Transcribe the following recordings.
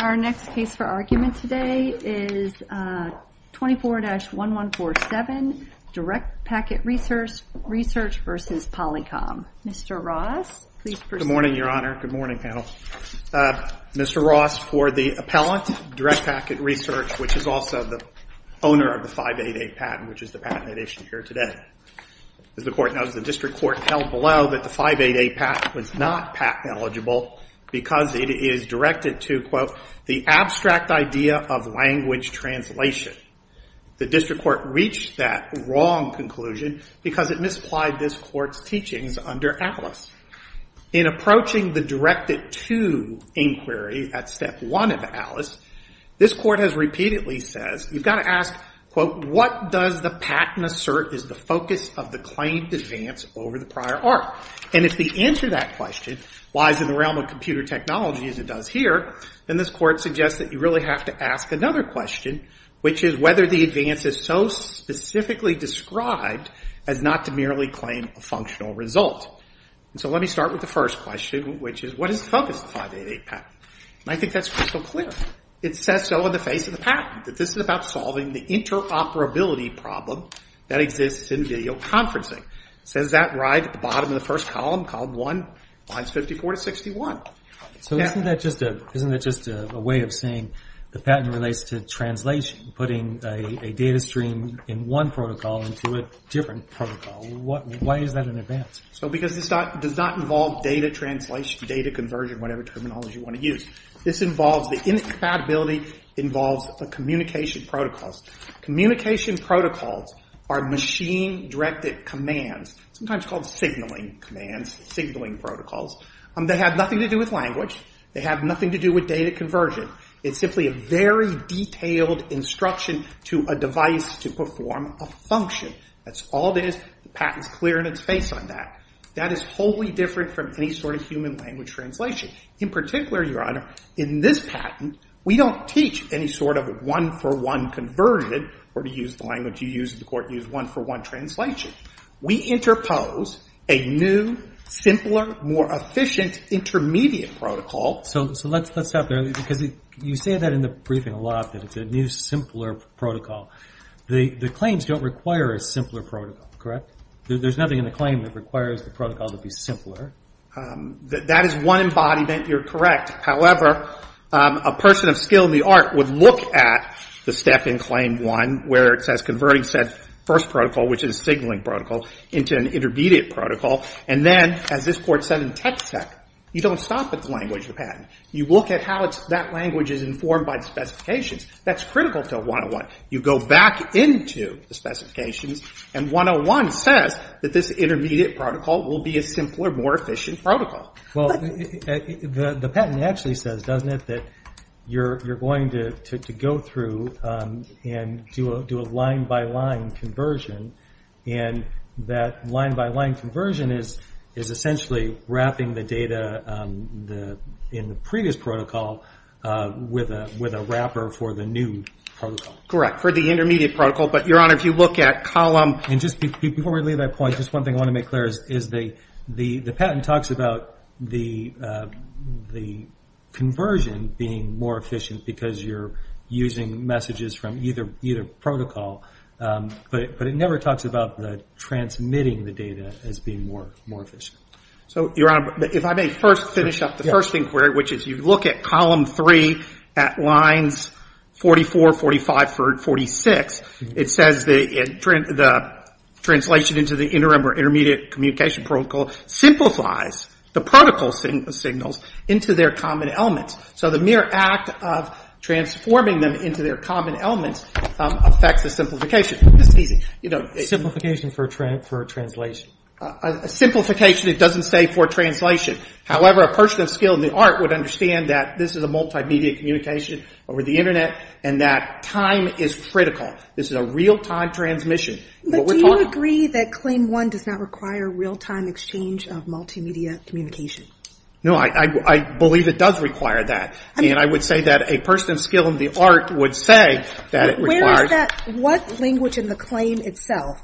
Our next case for argument today is 24-1147, DirectPacket Research v. Polycom. Mr. Ross, please proceed. Good morning, Your Honor. Good morning, panel. Mr. Ross, for the appellant, DirectPacket Research, which is also the owner of the 588 patent, which is the patent that issued here today. As the court knows, the district court held below that the 588 patent was not patent eligible because it is directed to, quote, the abstract idea of language translation. The district court reached that wrong conclusion because it misapplied this court's teachings under ATLAS. In approaching the directed-to inquiry at Step 1 of ATLAS, this court has repeatedly said, you've got to ask, quote, what does the patent assert is the focus of the claim to advance over the prior art? And if the answer to that question, why is it in the realm of computer technology as it does here, then this court suggests that you really have to ask another question, which is whether the advance is so specifically described as not to merely claim a functional result. And so let me start with the first question, which is what is the focus of the 588 patent? And I think that's crystal clear. It says so in the face of the patent, that this is about solving the interoperability problem that exists in video conferencing. It says that right at the bottom of the first column, column 1, lines 54 to 61. So isn't that just a way of saying the patent relates to translation, putting a data stream in one protocol into a different protocol? Why is that an advance? So because this does not involve data translation, data conversion, whatever terminology you want to use. This involves the incompatibility, involves the communication protocols. Communication protocols are machine-directed commands, sometimes called signaling commands, signaling protocols. They have nothing to do with language. They have nothing to do with data conversion. It's simply a very detailed instruction to a device to perform a function. That's all it is. The patent's clear in its face on that. That is wholly different from any sort of human language translation. In particular, Your Honor, in this patent, we don't teach any sort of one-for-one conversion, or to use the language you use in the court, use one-for-one translation. We interpose a new, simpler, more efficient intermediate protocol. So let's stop there. Because you say that in the briefing a lot, that it's a new, simpler protocol. The claims don't require a simpler protocol, correct? There's nothing in the claim that requires the protocol to be simpler. That is one embodiment. You're correct. However, a person of skill in the art would look at the step in Claim 1, where it says converting said first protocol, which is a signaling protocol, into an intermediate protocol. And then, as this Court said in Tex-Ex, you don't stop at the language of the patent. You look at how that language is informed by the specifications. That's critical to 101. You go back into the specifications, and 101 says that this intermediate protocol will be a simpler, more efficient protocol. Well, the patent actually says, doesn't it, that you're going to go through and do a line-by-line conversion. And that line-by-line conversion is essentially wrapping the data in the previous protocol with a wrapper for the new protocol. Correct, for the intermediate protocol. But, Your Honor, if you look at column – And just before we leave that point, just one thing I want to make clear is the patent talks about the conversion being more efficient because you're using messages from either protocol. But it never talks about the transmitting the data as being more efficient. So, Your Honor, if I may first finish up the first inquiry, which is you look at column 3 at lines 44, 45, 46. It says the translation into the interim or intermediate communication protocol simplifies the protocol signals into their common elements. So the mere act of transforming them into their common elements affects the simplification. This is easy. Simplification for translation. Simplification, it doesn't say for translation. However, a person of skill in the art would understand that this is a multimedia communication over the Internet and that time is critical. This is a real-time transmission. But do you agree that Claim 1 does not require real-time exchange of multimedia communication? No. I believe it does require that. And I would say that a person of skill in the art would say that it requires – Where is that – what language in the claim itself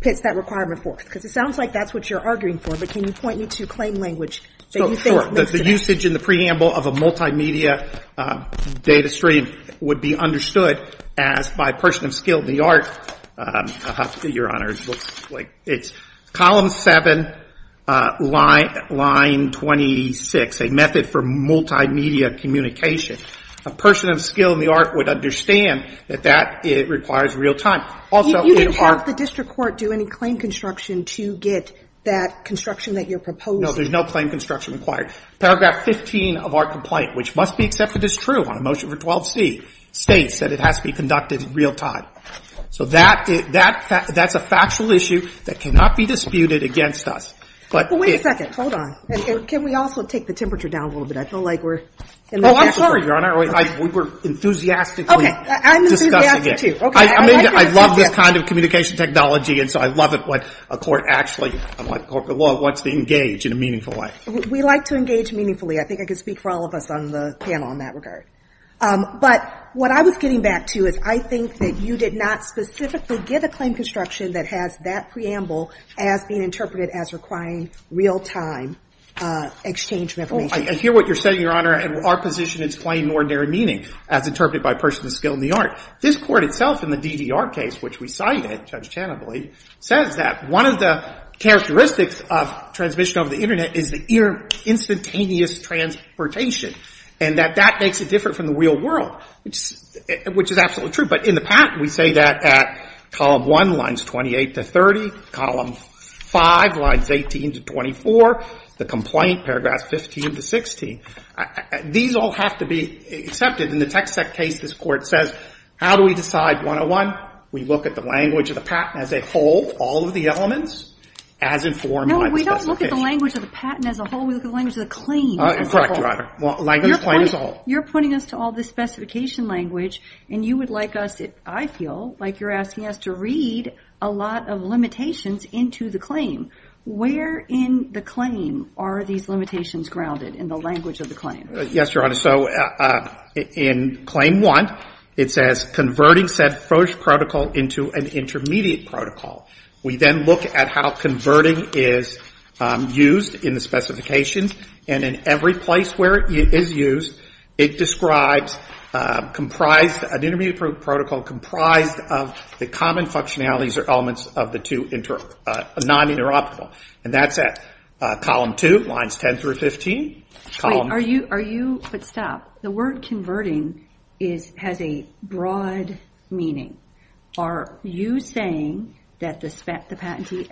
puts that requirement forth? Because it sounds like that's what you're arguing for. But can you point me to a claim language that you think – Sure. The usage in the preamble of a multimedia data stream would be understood as, by a person of skill in the art, Your Honor, it's column 7, line 26, a method for multimedia communication. A person of skill in the art would understand that that requires real-time. Also, in art – You didn't have the district court do any claim construction to get that construction that you're proposing. No, there's no claim construction required. Paragraph 15 of our complaint, which must be accepted as true on a motion for 12C, states that it has to be conducted in real-time. So that's a factual issue that cannot be disputed against us. But it – Well, wait a second. Hold on. Can we also take the temperature down a little bit? I feel like we're – Oh, I'm sorry, Your Honor. We were enthusiastically discussing it. Okay. I'm enthusiastic, too. Okay. I mean, I love this kind of communication technology, and so I love it when a court actually – I'm like, well, what's the engage in a meaningful way? We like to engage meaningfully. I think I can speak for all of us on the panel in that regard. But what I was getting back to is I think that you did not specifically give a claim construction that has that preamble as being interpreted as requiring real-time exchange of information. Well, I hear what you're saying, Your Honor, and our position is plain and ordinary meaning, as interpreted by persons of skill in the art. This Court itself in the DDR case, which we cited, Judge Tanable, says that one of the characteristics of transmission over the Internet is the instantaneous transportation, and that that makes it different from the real world, which is absolutely true. But in the patent, we say that at column 1, lines 28 to 30, column 5, lines 18 to 24, the complaint, paragraphs 15 to 16. These all have to be accepted. In the TxSEC case, this Court says, how do we decide 101? We look at the language of the patent as a whole, all of the elements, as informed by the specification. No, we don't look at the language of the patent as a whole. We look at the language of the claim as a whole. Correct, Your Honor. Language of the claim as a whole. You're pointing us to all the specification language, and you would like us, I feel like you're asking us, to read a lot of limitations into the claim. Where in the claim are these limitations grounded in the language of the claim? Yes, Your Honor. So in claim 1, it says converting said first protocol into an intermediate protocol. We then look at how converting is used in the specifications, and in every place where it is used, it describes comprised, an intermediate protocol comprised of the common functionalities or elements of the two non-interoptible. And that's at column 2, lines 10 through 15. But stop. The word converting has a broad meaning. Are you saying that the patentee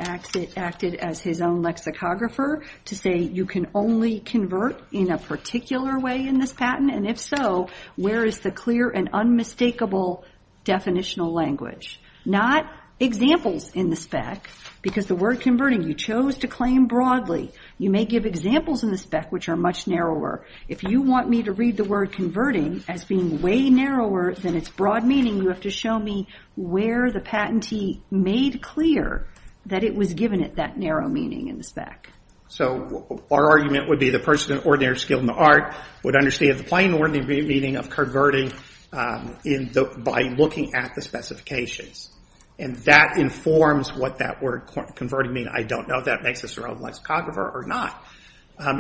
acted as his own lexicographer to say you can only convert in a particular way in this patent? And if so, where is the clear and unmistakable definitional language? Not examples in the spec, because the word converting, you chose to claim broadly. You may give examples in the spec which are much narrower. If you want me to read the word converting as being way narrower than its broad meaning, you have to show me where the patentee made clear that it was given that narrow meaning in the spec. So our argument would be the person of ordinary skill in the art would understand the plain ordinary meaning of converting by looking at the specifications. And that informs what that word converting means. And I don't know if that makes us our own lexicographer or not.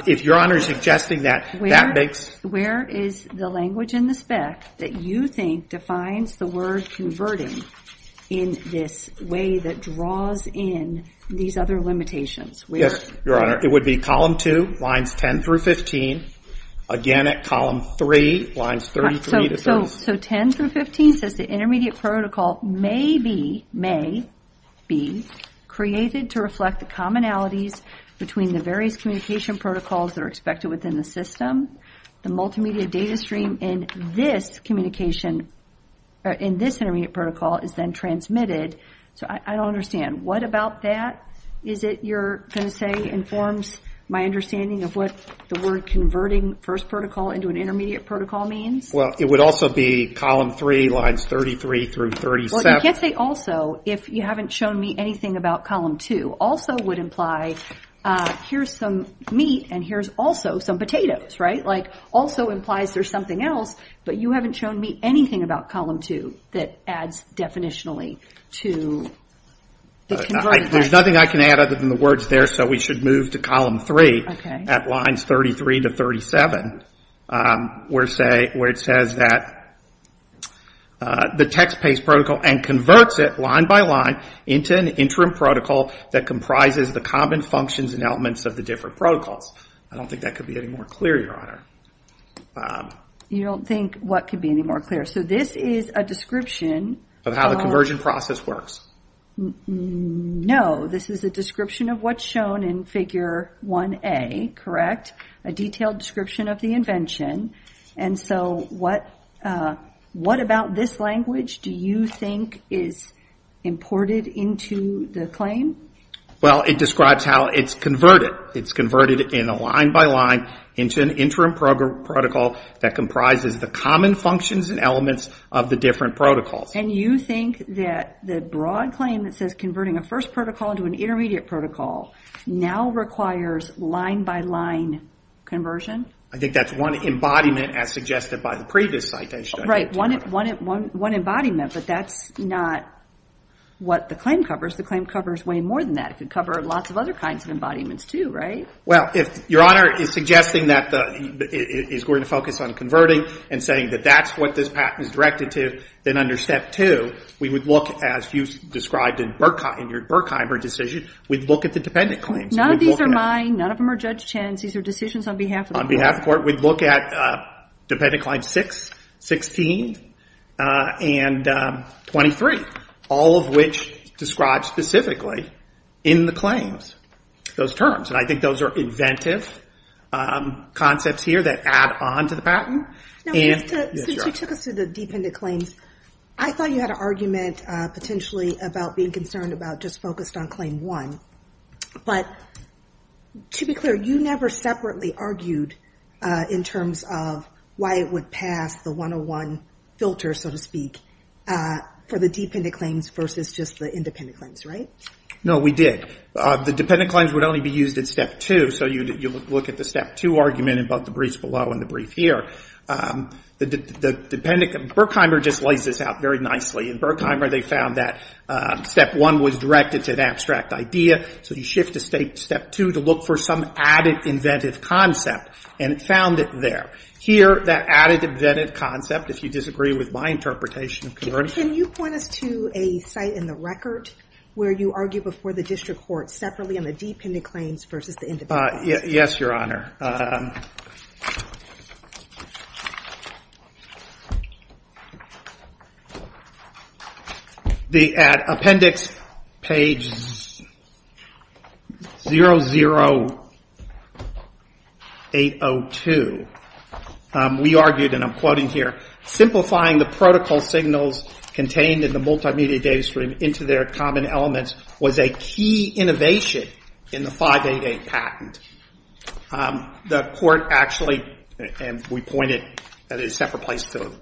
If Your Honor is suggesting that that makes... Where is the language in the spec that you think defines the word converting in this way that draws in these other limitations? Yes, Your Honor. It would be column 2, lines 10 through 15. Again, at column 3, lines 33 to 30. So 10 through 15 says the intermediate protocol may be created to reflect the commonalities between the various communication protocols that are expected within the system. The multimedia data stream in this communication, in this intermediate protocol is then transmitted. So I don't understand. What about that is it you're going to say informs my understanding of what the word converting first protocol into an intermediate protocol means? Well, it would also be column 3, lines 33 through 37. Well, you can't say also if you haven't shown me anything about column 2. Also would imply here's some meat and here's also some potatoes, right? Like, also implies there's something else, but you haven't shown me anything about column 2 that adds definitionally to the converted... There's nothing I can add other than the words there, so we should move to column 3 at lines 33 to 37. Where it says that the text-based protocol and converts it line by line into an interim protocol that comprises the common functions and elements of the different protocols. I don't think that could be any more clear, Your Honor. You don't think what could be any more clear? So this is a description... Of how the conversion process works. No, this is a description of what's shown in figure 1A, correct? A detailed description of the invention. And so what about this language do you think is imported into the claim? Well, it describes how it's converted. It's converted in a line by line into an interim protocol that comprises the common functions and elements of the different protocols. And you think that the broad claim that says converting a first protocol into an intermediate protocol now requires line by line conversion? I think that's one embodiment as suggested by the previous citation. Right, one embodiment, but that's not what the claim covers. The claim covers way more than that. It could cover lots of other kinds of embodiments too, right? Well, if Your Honor is suggesting that it's going to focus on converting and saying that that's what this patent is directed to, then under step 2 we would look, as you described in your Berkheimer decision, we'd look at the dependent claims. None of these are mine. None of them are Judge Chen's. These are decisions on behalf of the court. On behalf of the court, we'd look at dependent claims 6, 16, and 23, all of which describe specifically in the claims those terms. And I think those are inventive concepts here that add on to the patent. Since you took us to the dependent claims, I thought you had an argument potentially about being concerned about just focused on claim 1. But to be clear, you never separately argued in terms of why it would pass the 101 filter, so to speak, for the dependent claims versus just the independent claims, right? No, we did. The dependent claims would only be used in step 2, so you look at the step 2 argument in both the briefs below and the brief here. Berkheimer just lays this out very nicely. In Berkheimer, they found that step 1 was directed to an abstract idea, so you shift to step 2 to look for some added inventive concept, and it found it there. Here, that added inventive concept, if you disagree with my interpretation of converting... Can you point us to a site in the record where you argue before the district court separately on the dependent claims versus the independent claims? Yes, Your Honor. The appendix, page 00802. We argued, and I'm quoting here, simplifying the protocol signals contained in the multimedia data stream into their common elements was a key innovation in the 588 patent. The court actually, and we point it at a separate place to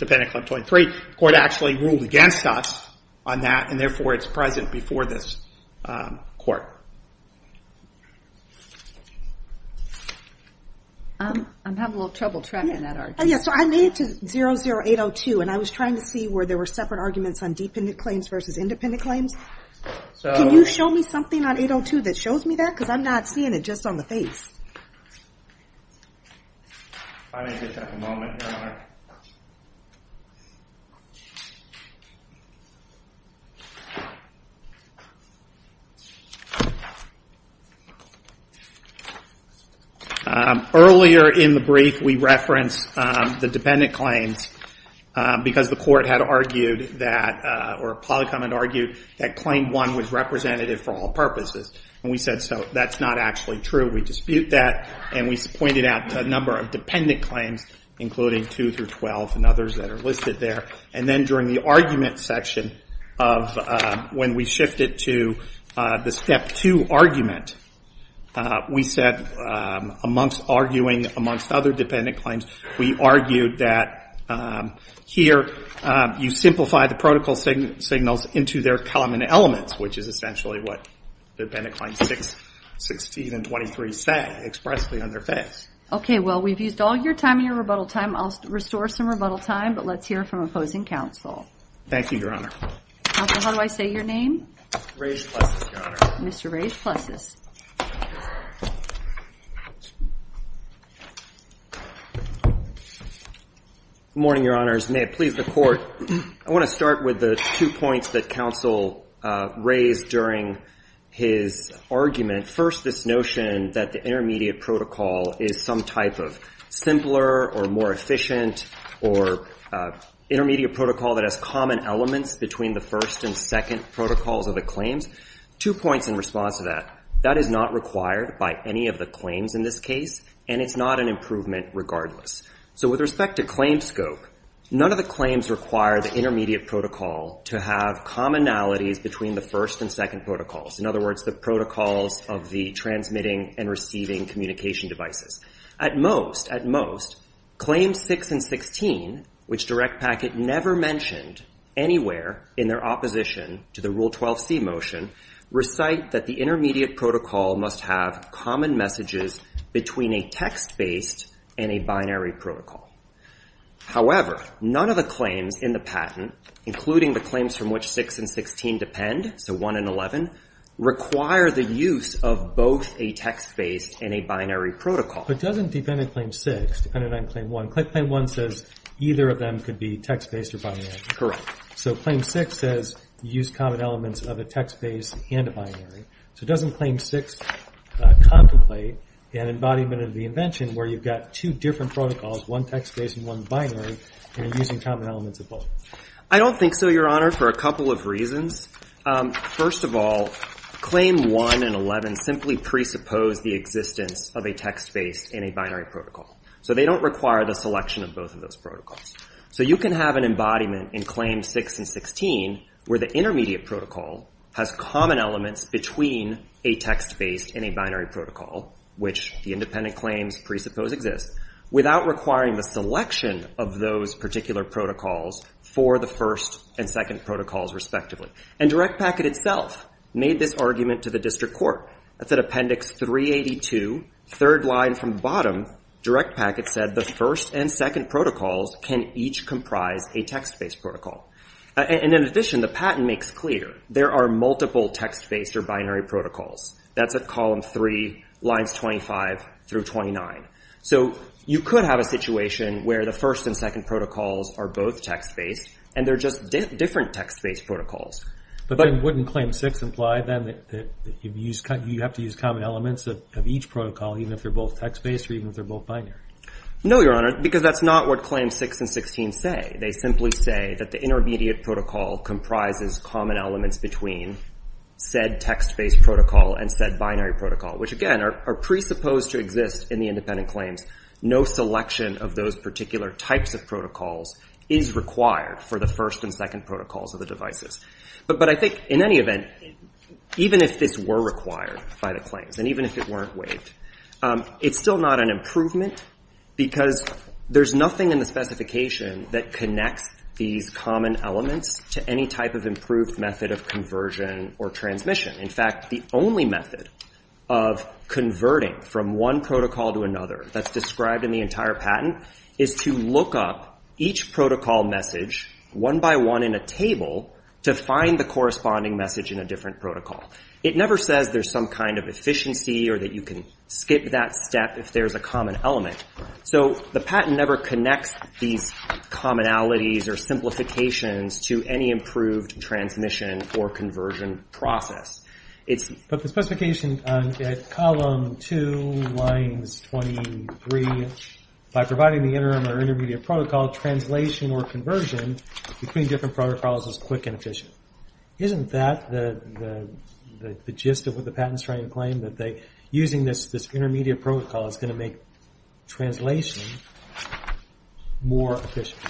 appendix 123, the court actually ruled against us on that, and therefore it's present before this court. I'm having a little trouble tracking that argument. Yes, so I made it to 00802, and I was trying to see where there were separate arguments on dependent claims versus independent claims. Can you show me something on 802 that shows me that? Because I'm not seeing it just on the face. If I may just have a moment, Your Honor. Earlier in the brief, we referenced the dependent claims because the court had argued that, or Polycom had argued, that claim one was representative for all purposes. And we said, so that's not actually true. We dispute that, and we pointed out a number of dependent claims, including 2 through 12 and others that are listed there. And then during the argument section of when we shifted to the step 2 argument, we said, amongst arguing amongst other dependent claims, we argued that here you simplify the protocol signals into their common elements, which is essentially what the dependent claims 16 and 23 said expressly on their face. Okay, well, we've used all your time and your rebuttal time. I'll restore some rebuttal time, but let's hear from opposing counsel. Thank you, Your Honor. Counsel, how do I say your name? Rays Plessis, Your Honor. Mr. Rays Plessis. Good morning, Your Honors. May it please the court, I want to start with the two points that counsel raised during his argument. First, this notion that the intermediate protocol is some type of simpler or more efficient or intermediate protocol that has common elements between the first and second protocols of the claims. Two points in response to that. That is not required by any of the claims in this case, and it's not an improvement regardless. So with respect to claim scope, none of the claims require the intermediate protocol to have commonalities between the first and second protocols. In other words, the protocols of the transmitting and receiving communication devices. At most, claims 6 and 16, which Direct Packet never mentioned anywhere in their opposition to the Rule 12c motion, recite that the intermediate protocol must have common messages between a text-based and a binary protocol. However, none of the claims in the patent, including the claims from which 6 and 16 depend, so 1 and 11, require the use of both a text-based and a binary protocol. But doesn't defendant claim 6, defendant on claim 1, claim 1 says either of them could be text-based or binary. Correct. So claim 6 says use common elements of a text-based and a binary. So doesn't claim 6 contemplate an embodiment of the invention where you've got two different protocols, one text-based and one binary, and you're using common elements of both? I don't think so, Your Honor, for a couple of reasons. First of all, claim 1 and 11 simply presuppose the existence of a text-based and a binary protocol. So they don't require the selection of both of those protocols. So you can have an embodiment in claims 6 and 16 where the intermediate protocol has common elements between a text-based and a binary protocol, which the independent claims presuppose exist, without requiring the selection of those particular protocols for the first and second protocols, respectively. And Direct Packet itself made this argument to the district court. That's at Appendix 382, third line from bottom, Direct Packet said the first and second protocols can each comprise a text-based protocol. And in addition, the patent makes clear there are multiple text-based or binary protocols. That's at column 3, lines 25 through 29. So you could have a situation where the first and second protocols are both text-based and they're just different text-based protocols. But wouldn't claim 6 imply then that you have to use common elements of each protocol, even if they're both text-based or even if they're both binary? No, Your Honor, because that's not what claims 6 and 16 say. They simply say that the intermediate protocol comprises common elements between said text-based protocol and said binary protocol, which again are presupposed to exist in the independent claims. No selection of those particular types of protocols is required for the first and second protocols of the devices. But I think in any event, even if this were required by the claims, and even if it weren't waived, it's still not an improvement because there's nothing in the specification that connects these common elements to any type of improved method of conversion or transmission. In fact, the only method of converting from one protocol to another that's described in the entire patent is to look up each protocol message, one by one in a table, to find the corresponding message in a different protocol. It never says there's some kind of efficiency or that you can skip that step if there's a common element. So the patent never connects these commonalities or simplifications to any improved transmission or conversion process. But the specification at column 2, lines 23, by providing the interim or intermediate protocol, translation or conversion between different protocols is quick and efficient. Isn't that the gist of what the patent is trying to claim, that using this intermediate protocol is going to make translation more efficient?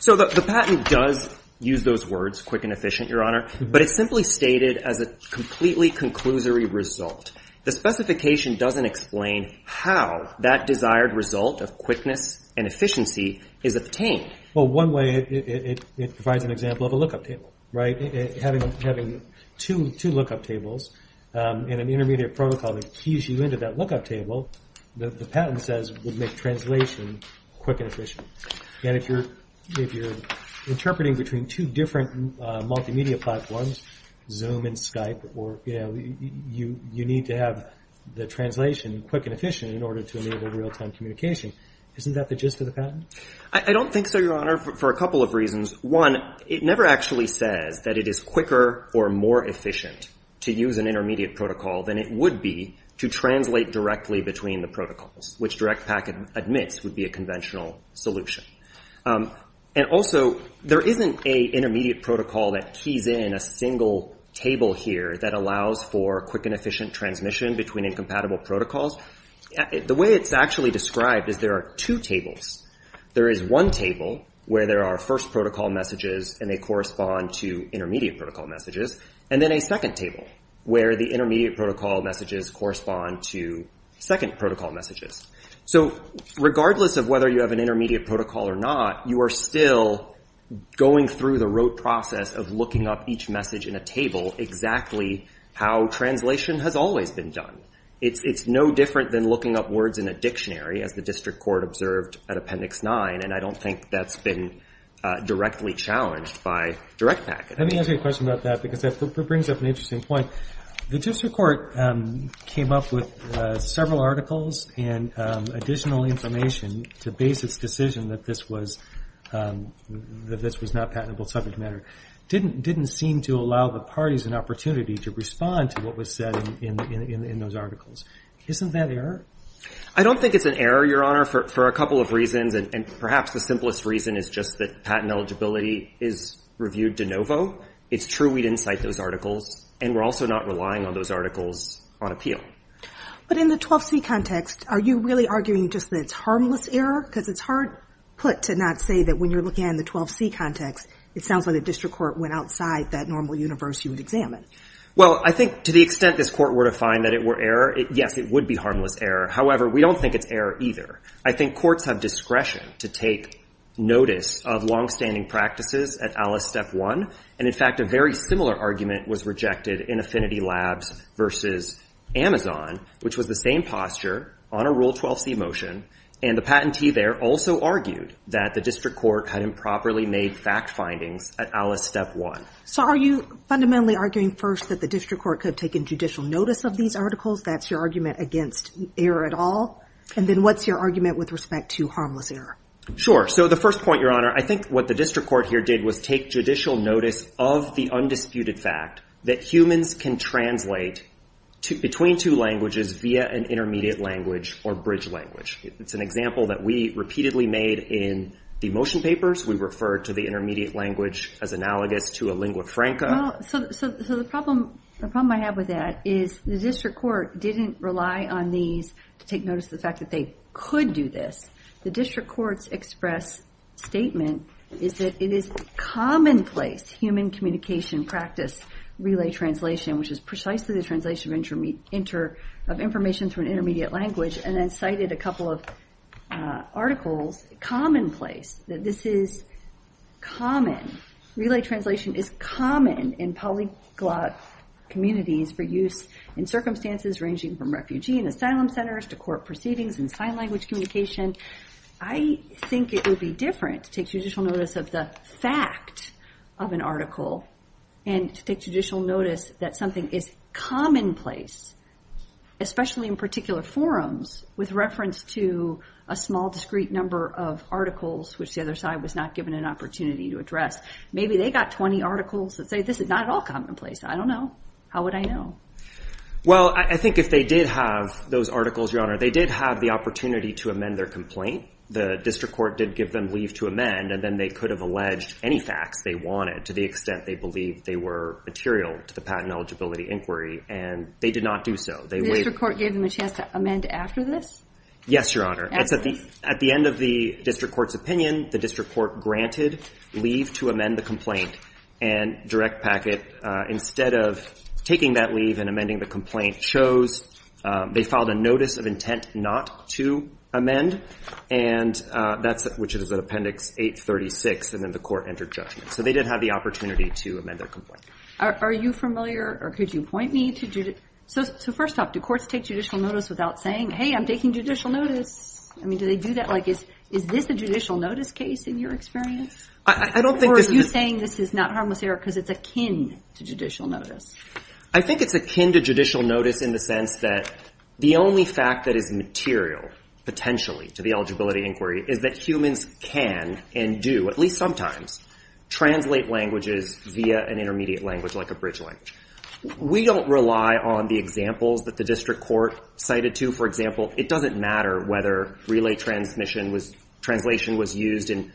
So the patent does use those words, quick and efficient, Your Honor, but it's simply stated as a completely conclusory result. The specification doesn't explain how that desired result of quickness and efficiency is obtained. Well, one way, it provides an example of a lookup table, right? Having two lookup tables and an intermediate protocol that keys you into that lookup table, the patent says would make translation quick and efficient. And if you're interpreting between two different multimedia platforms, Zoom and Skype, you need to have the translation quick and efficient in order to enable real-time communication. Isn't that the gist of the patent? I don't think so, Your Honor, for a couple of reasons. One, it never actually says that it is quicker or more efficient to use an intermediate protocol than it would be to translate directly between the protocols, which DirectPak admits would be a conventional solution. And also, there isn't an intermediate protocol that keys in a single table here that allows for quick and efficient transmission between incompatible protocols. The way it's actually described is there are two tables. There is one table where there are first protocol messages and they correspond to intermediate protocol messages, and then a second table where the intermediate protocol messages correspond to second protocol messages. So regardless of whether you have an intermediate protocol or not, you are still going through the rote process of looking up each message in a table exactly how translation has always been done. It's no different than looking up words in a dictionary, as the district court observed at Appendix 9, and I don't think that's been directly challenged by DirectPak. Let me ask you a question about that because that brings up an interesting point. The district court came up with several articles and additional information to base its decision that this was not a patentable subject matter. It didn't seem to allow the parties an opportunity to respond to what was said in those articles. Isn't that error? I don't think it's an error, Your Honor, for a couple of reasons, and perhaps the simplest reason is just that patent eligibility is reviewed de novo. It's true we didn't cite those articles, and we're also not relying on those articles on appeal. But in the 12C context, are you really arguing just that it's harmless error? Because it's hard put to not say that when you're looking at it in the 12C context, it sounds like the district court went outside that normal universe you would examine. Well, I think to the extent this court were to find that it were error, yes, it would be harmless error. However, we don't think it's error either. I think courts have discretion to take notice of longstanding practices at Alice Step 1, and in fact a very similar argument was rejected in Affinity Labs versus Amazon, which was the same posture on a Rule 12C motion, and the patentee there also argued that the district court had improperly made fact findings at Alice Step 1. So are you fundamentally arguing first that the district court could have taken judicial notice of these articles? That's your argument against error at all. And then what's your argument with respect to harmless error? Sure. So the first point, Your Honor, I think what the district court here did was take judicial notice of the undisputed fact that humans can translate between two languages via an intermediate language or bridge language. It's an example that we repeatedly made in the motion papers. We referred to the intermediate language as analogous to a lingua franca. So the problem I have with that is the district court didn't rely on these to take notice of the fact that they could do this. The district court's express statement is that it is commonplace human communication practice relay translation, which is precisely the translation of information through an intermediate language, and then cited a couple of articles, commonplace, that this is common. Relay translation is common in polyglot communities for use in circumstances ranging from refugee and asylum centers to court proceedings and sign language communication. I think it would be different to take judicial notice of the fact of an article and to take judicial notice that something is commonplace, especially in particular forums, with reference to a small, discrete number of articles, which the other side was not given an opportunity to address. Maybe they got 20 articles that say this is not at all commonplace. I don't know. How would I know? Well, I think if they did have those articles, Your Honor, they did have the opportunity to amend their complaint. The district court did give them leave to amend, and then they could have alleged any facts they wanted to the extent they believed they were material to the patent eligibility inquiry, and they did not do so. The district court gave them a chance to amend after this? Yes, Your Honor. At the end of the district court's opinion, the district court granted leave to amend the complaint, and Direct Packet, instead of taking that leave and amending the complaint, chose they filed a notice of intent not to amend, and that's which is at Appendix 836, and then the court entered judgment. So they did have the opportunity to amend their complaint. Are you familiar, or could you point me to? So first off, do courts take judicial notice without saying, hey, I'm taking judicial notice? I mean, do they do that? Like, is this a judicial notice case in your experience? Or are you saying this is not harmless error because it's akin to judicial notice? I think it's akin to judicial notice in the sense that the only fact that is material, potentially, to the eligibility inquiry is that humans can and do, at least sometimes, translate languages via an intermediate language like a bridge language. We don't rely on the examples that the district court cited to. For example, it doesn't matter whether relay translation was used in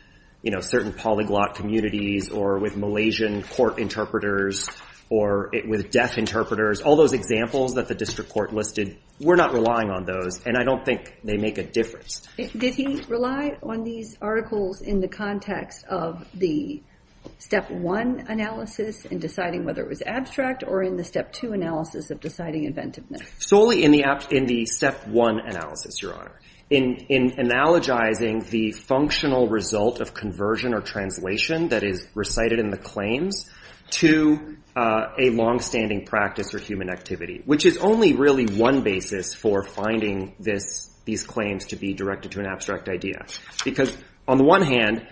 certain polyglot communities or with Malaysian court interpreters or with deaf interpreters. All those examples that the district court listed, we're not relying on those, and I don't think they make a difference. Did he rely on these articles in the context of the Step 1 analysis in deciding whether it was abstract or in the Step 2 analysis of deciding inventiveness? Solely in the Step 1 analysis, Your Honor. In analogizing the functional result of conversion or translation that is recited in the claims to a longstanding practice or human activity, which is only really one basis for finding these claims to be directed to an abstract idea. Because on the one hand,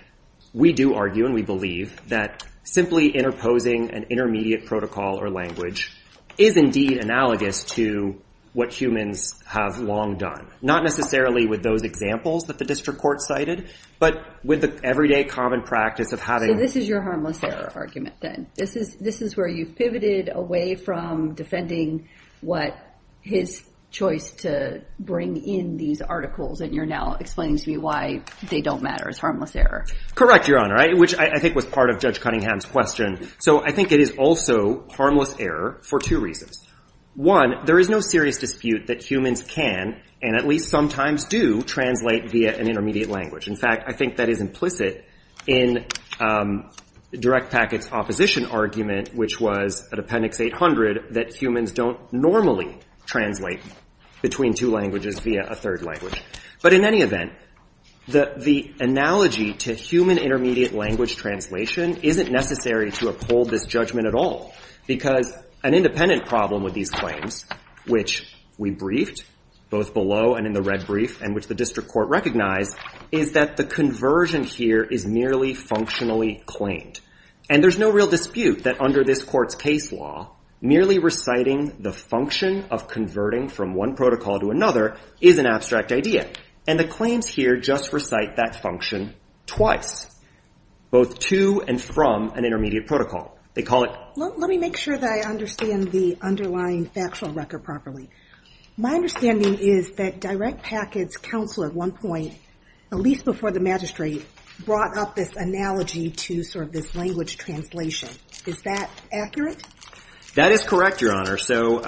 we do argue and we believe that simply interposing an intermediate protocol or language is indeed analogous to what humans have long done. Not necessarily with those examples that the district court cited, but with the everyday common practice of having... So this is your harmless error argument, then. This is where you've pivoted away from defending what his choice to bring in these articles, and you're now explaining to me why they don't matter as harmless error. Correct, Your Honor, which I think was part of Judge Cunningham's question. So I think it is also harmless error for two reasons. One, there is no serious dispute that humans can, and at least sometimes do, translate via an intermediate language. In fact, I think that is implicit in Direct Packet's opposition argument, which was at Appendix 800, that humans don't normally translate between two languages via a third language. But in any event, the analogy to human intermediate language translation isn't necessary to uphold this judgment at all. Because an independent problem with these claims, which we briefed, both below and in the red brief, and which the district court recognized, is that the conversion here is merely functionally claimed. And there's no real dispute that under this court's case law, merely reciting the function of converting from one protocol to another is an abstract idea. And the claims here just recite that function twice, both to and from an intermediate protocol. They call it... Let me make sure that I understand the underlying factual record properly. My understanding is that Direct Packet's counsel at one point, at least before the magistrate, brought up this analogy to sort of this language translation. Is that accurate? That is correct, Your Honor. So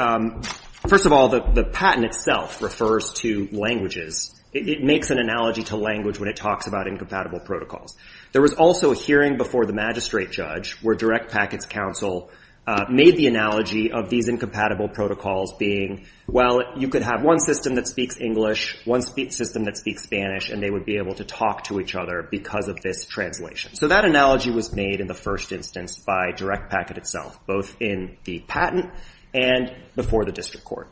first of all, the patent itself refers to languages. It makes an analogy to language when it talks about incompatible protocols. There was also a hearing before the magistrate judge where Direct Packet's counsel made the analogy of these incompatible protocols being, well, you could have one system that speaks English, one system that speaks Spanish, and they would be able to talk to each other because of this translation. So that analogy was made in the first instance by Direct Packet itself, both in the patent and before the district court.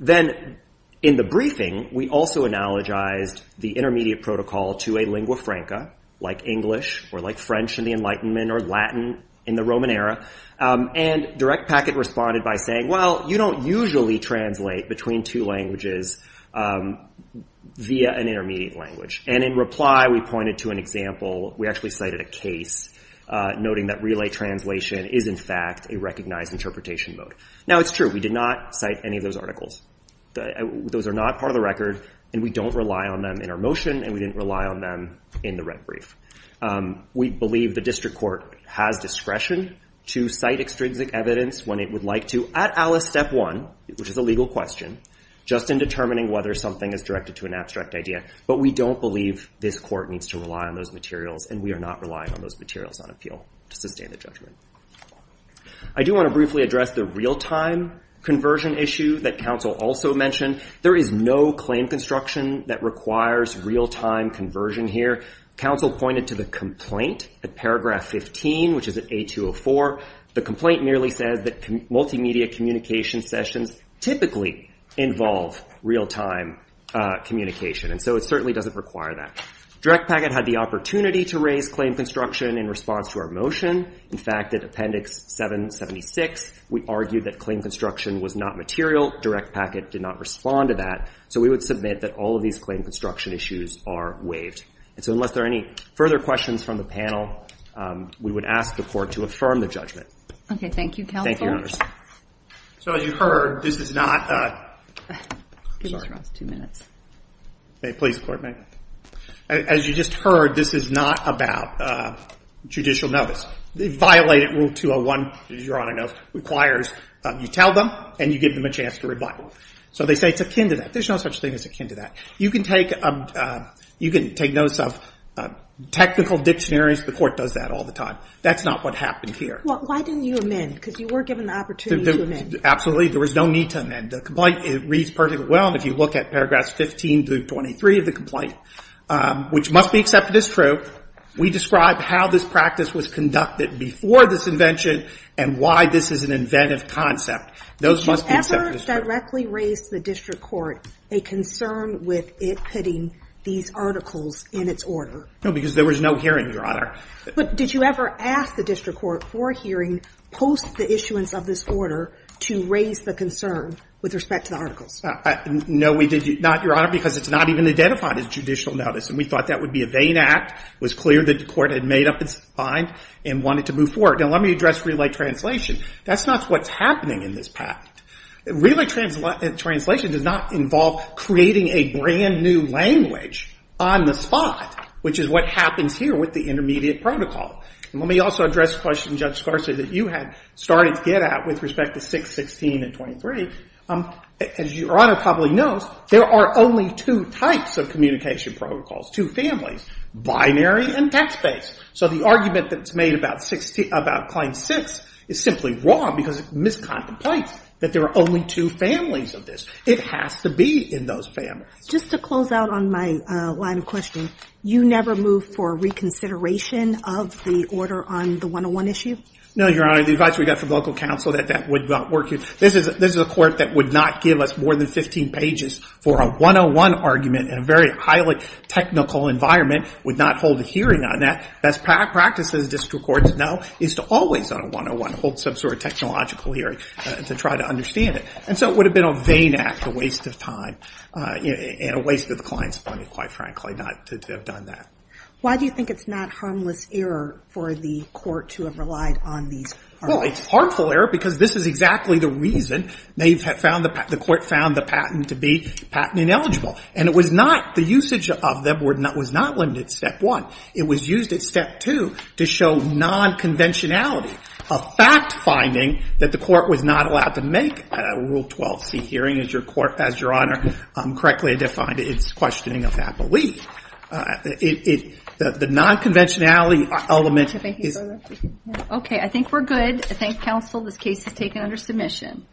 Then in the briefing, we also analogized the intermediate protocol to a lingua franca, like English or like French in the Enlightenment or Latin in the Roman era. And Direct Packet responded by saying, well, you don't usually translate between two languages via an intermediate language. And in reply, we pointed to an example, we actually cited a case, noting that relay translation is, in fact, a recognized interpretation mode. Now, it's true, we did not cite any of those articles. Those are not part of the record, and we don't rely on them in our motion, and we didn't rely on them in the red brief. We believe the district court has discretion to cite extrinsic evidence when it would like to at Alice Step 1, which is a legal question, just in determining whether something is directed to an abstract idea. But we don't believe this court needs to rely on those materials, and we are not relying on those materials on appeal to sustain the judgment. I do want to briefly address the real-time conversion issue that counsel also mentioned. There is no claim construction that requires real-time conversion here. Counsel pointed to the complaint at paragraph 15, which is at A204. The complaint merely says that multimedia communication sessions typically involve real-time communication. And so it certainly doesn't require that. Direct Packet had the opportunity to raise claim construction in response to our motion. In fact, at Appendix 776, we argued that claim construction was not material. Direct Packet did not respond to that. So we would submit that all of these claim construction issues are waived. And so unless there are any further questions from the panel, we would ask the court to affirm the judgment. Okay, thank you, counsel. Thank you, notice. So as you heard, this is not a – Give us two minutes. May it please the Court, ma'am. As you just heard, this is not about judicial notice. Violating Rule 201, as Your Honor knows, requires you tell them and you give them a chance to rebut. So they say it's akin to that. There's no such thing as akin to that. You can take notice of technical dictionaries. The court does that all the time. That's not what happened here. Well, why didn't you amend? Because you were given the opportunity to amend. Absolutely. There was no need to amend. The complaint reads perfectly well if you look at paragraphs 15 through 23 of the complaint, which must be accepted as true. We describe how this practice was conducted before this invention and why this is an inventive concept. Those must be accepted as true. Did you ever directly raise to the district court a concern with it putting these articles in its order? No, because there was no hearing, Your Honor. But did you ever ask the district court for a hearing post the issuance of this order to raise the concern with respect to the articles? No, we did not, Your Honor, because it's not even identified as judicial notice. And we thought that would be a vain act. It was clear that the court had made up its mind and wanted to move forward. Now, let me address relay translation. That's not what's happening in this patent. Relay translation does not involve creating a brand-new language on the spot, which is what happens here with the intermediate protocol. And let me also address the question, Judge Scarsley, that you had started to get at with respect to 616 and 23. As Your Honor probably knows, there are only two types of communication protocols, two families, binary and text-based. So the argument that's made about Claim 6 is simply wrong because it miscontemplates that there are only two families of this. It has to be in those families. Just to close out on my line of questioning, you never moved for reconsideration of the order on the 101 issue? No, Your Honor. The advice we got from local counsel that that would not work. This is a court that would not give us more than 15 pages for a 101 argument in a very highly technical environment, would not hold a hearing on that. Best practice, as district courts know, is to always on a 101, hold some sort of technological hearing to try to understand it. And so it would have been a vain act, a waste of time, and a waste of the client's money, quite frankly, to have done that. Why do you think it's not harmless error for the court to have relied on these arguments? Well, it's harmful error because this is exactly the reason the court found the patent to be patent ineligible. And the usage of them was not limited to Step 1. It was used at Step 2 to show nonconventionality, a fact-finding that the court was not allowed to make at a Rule 12c hearing. As Your Honor correctly defined, it's questioning of happily. The nonconventionality element is... Okay, I think we're good. I thank counsel. This case is taken under submission.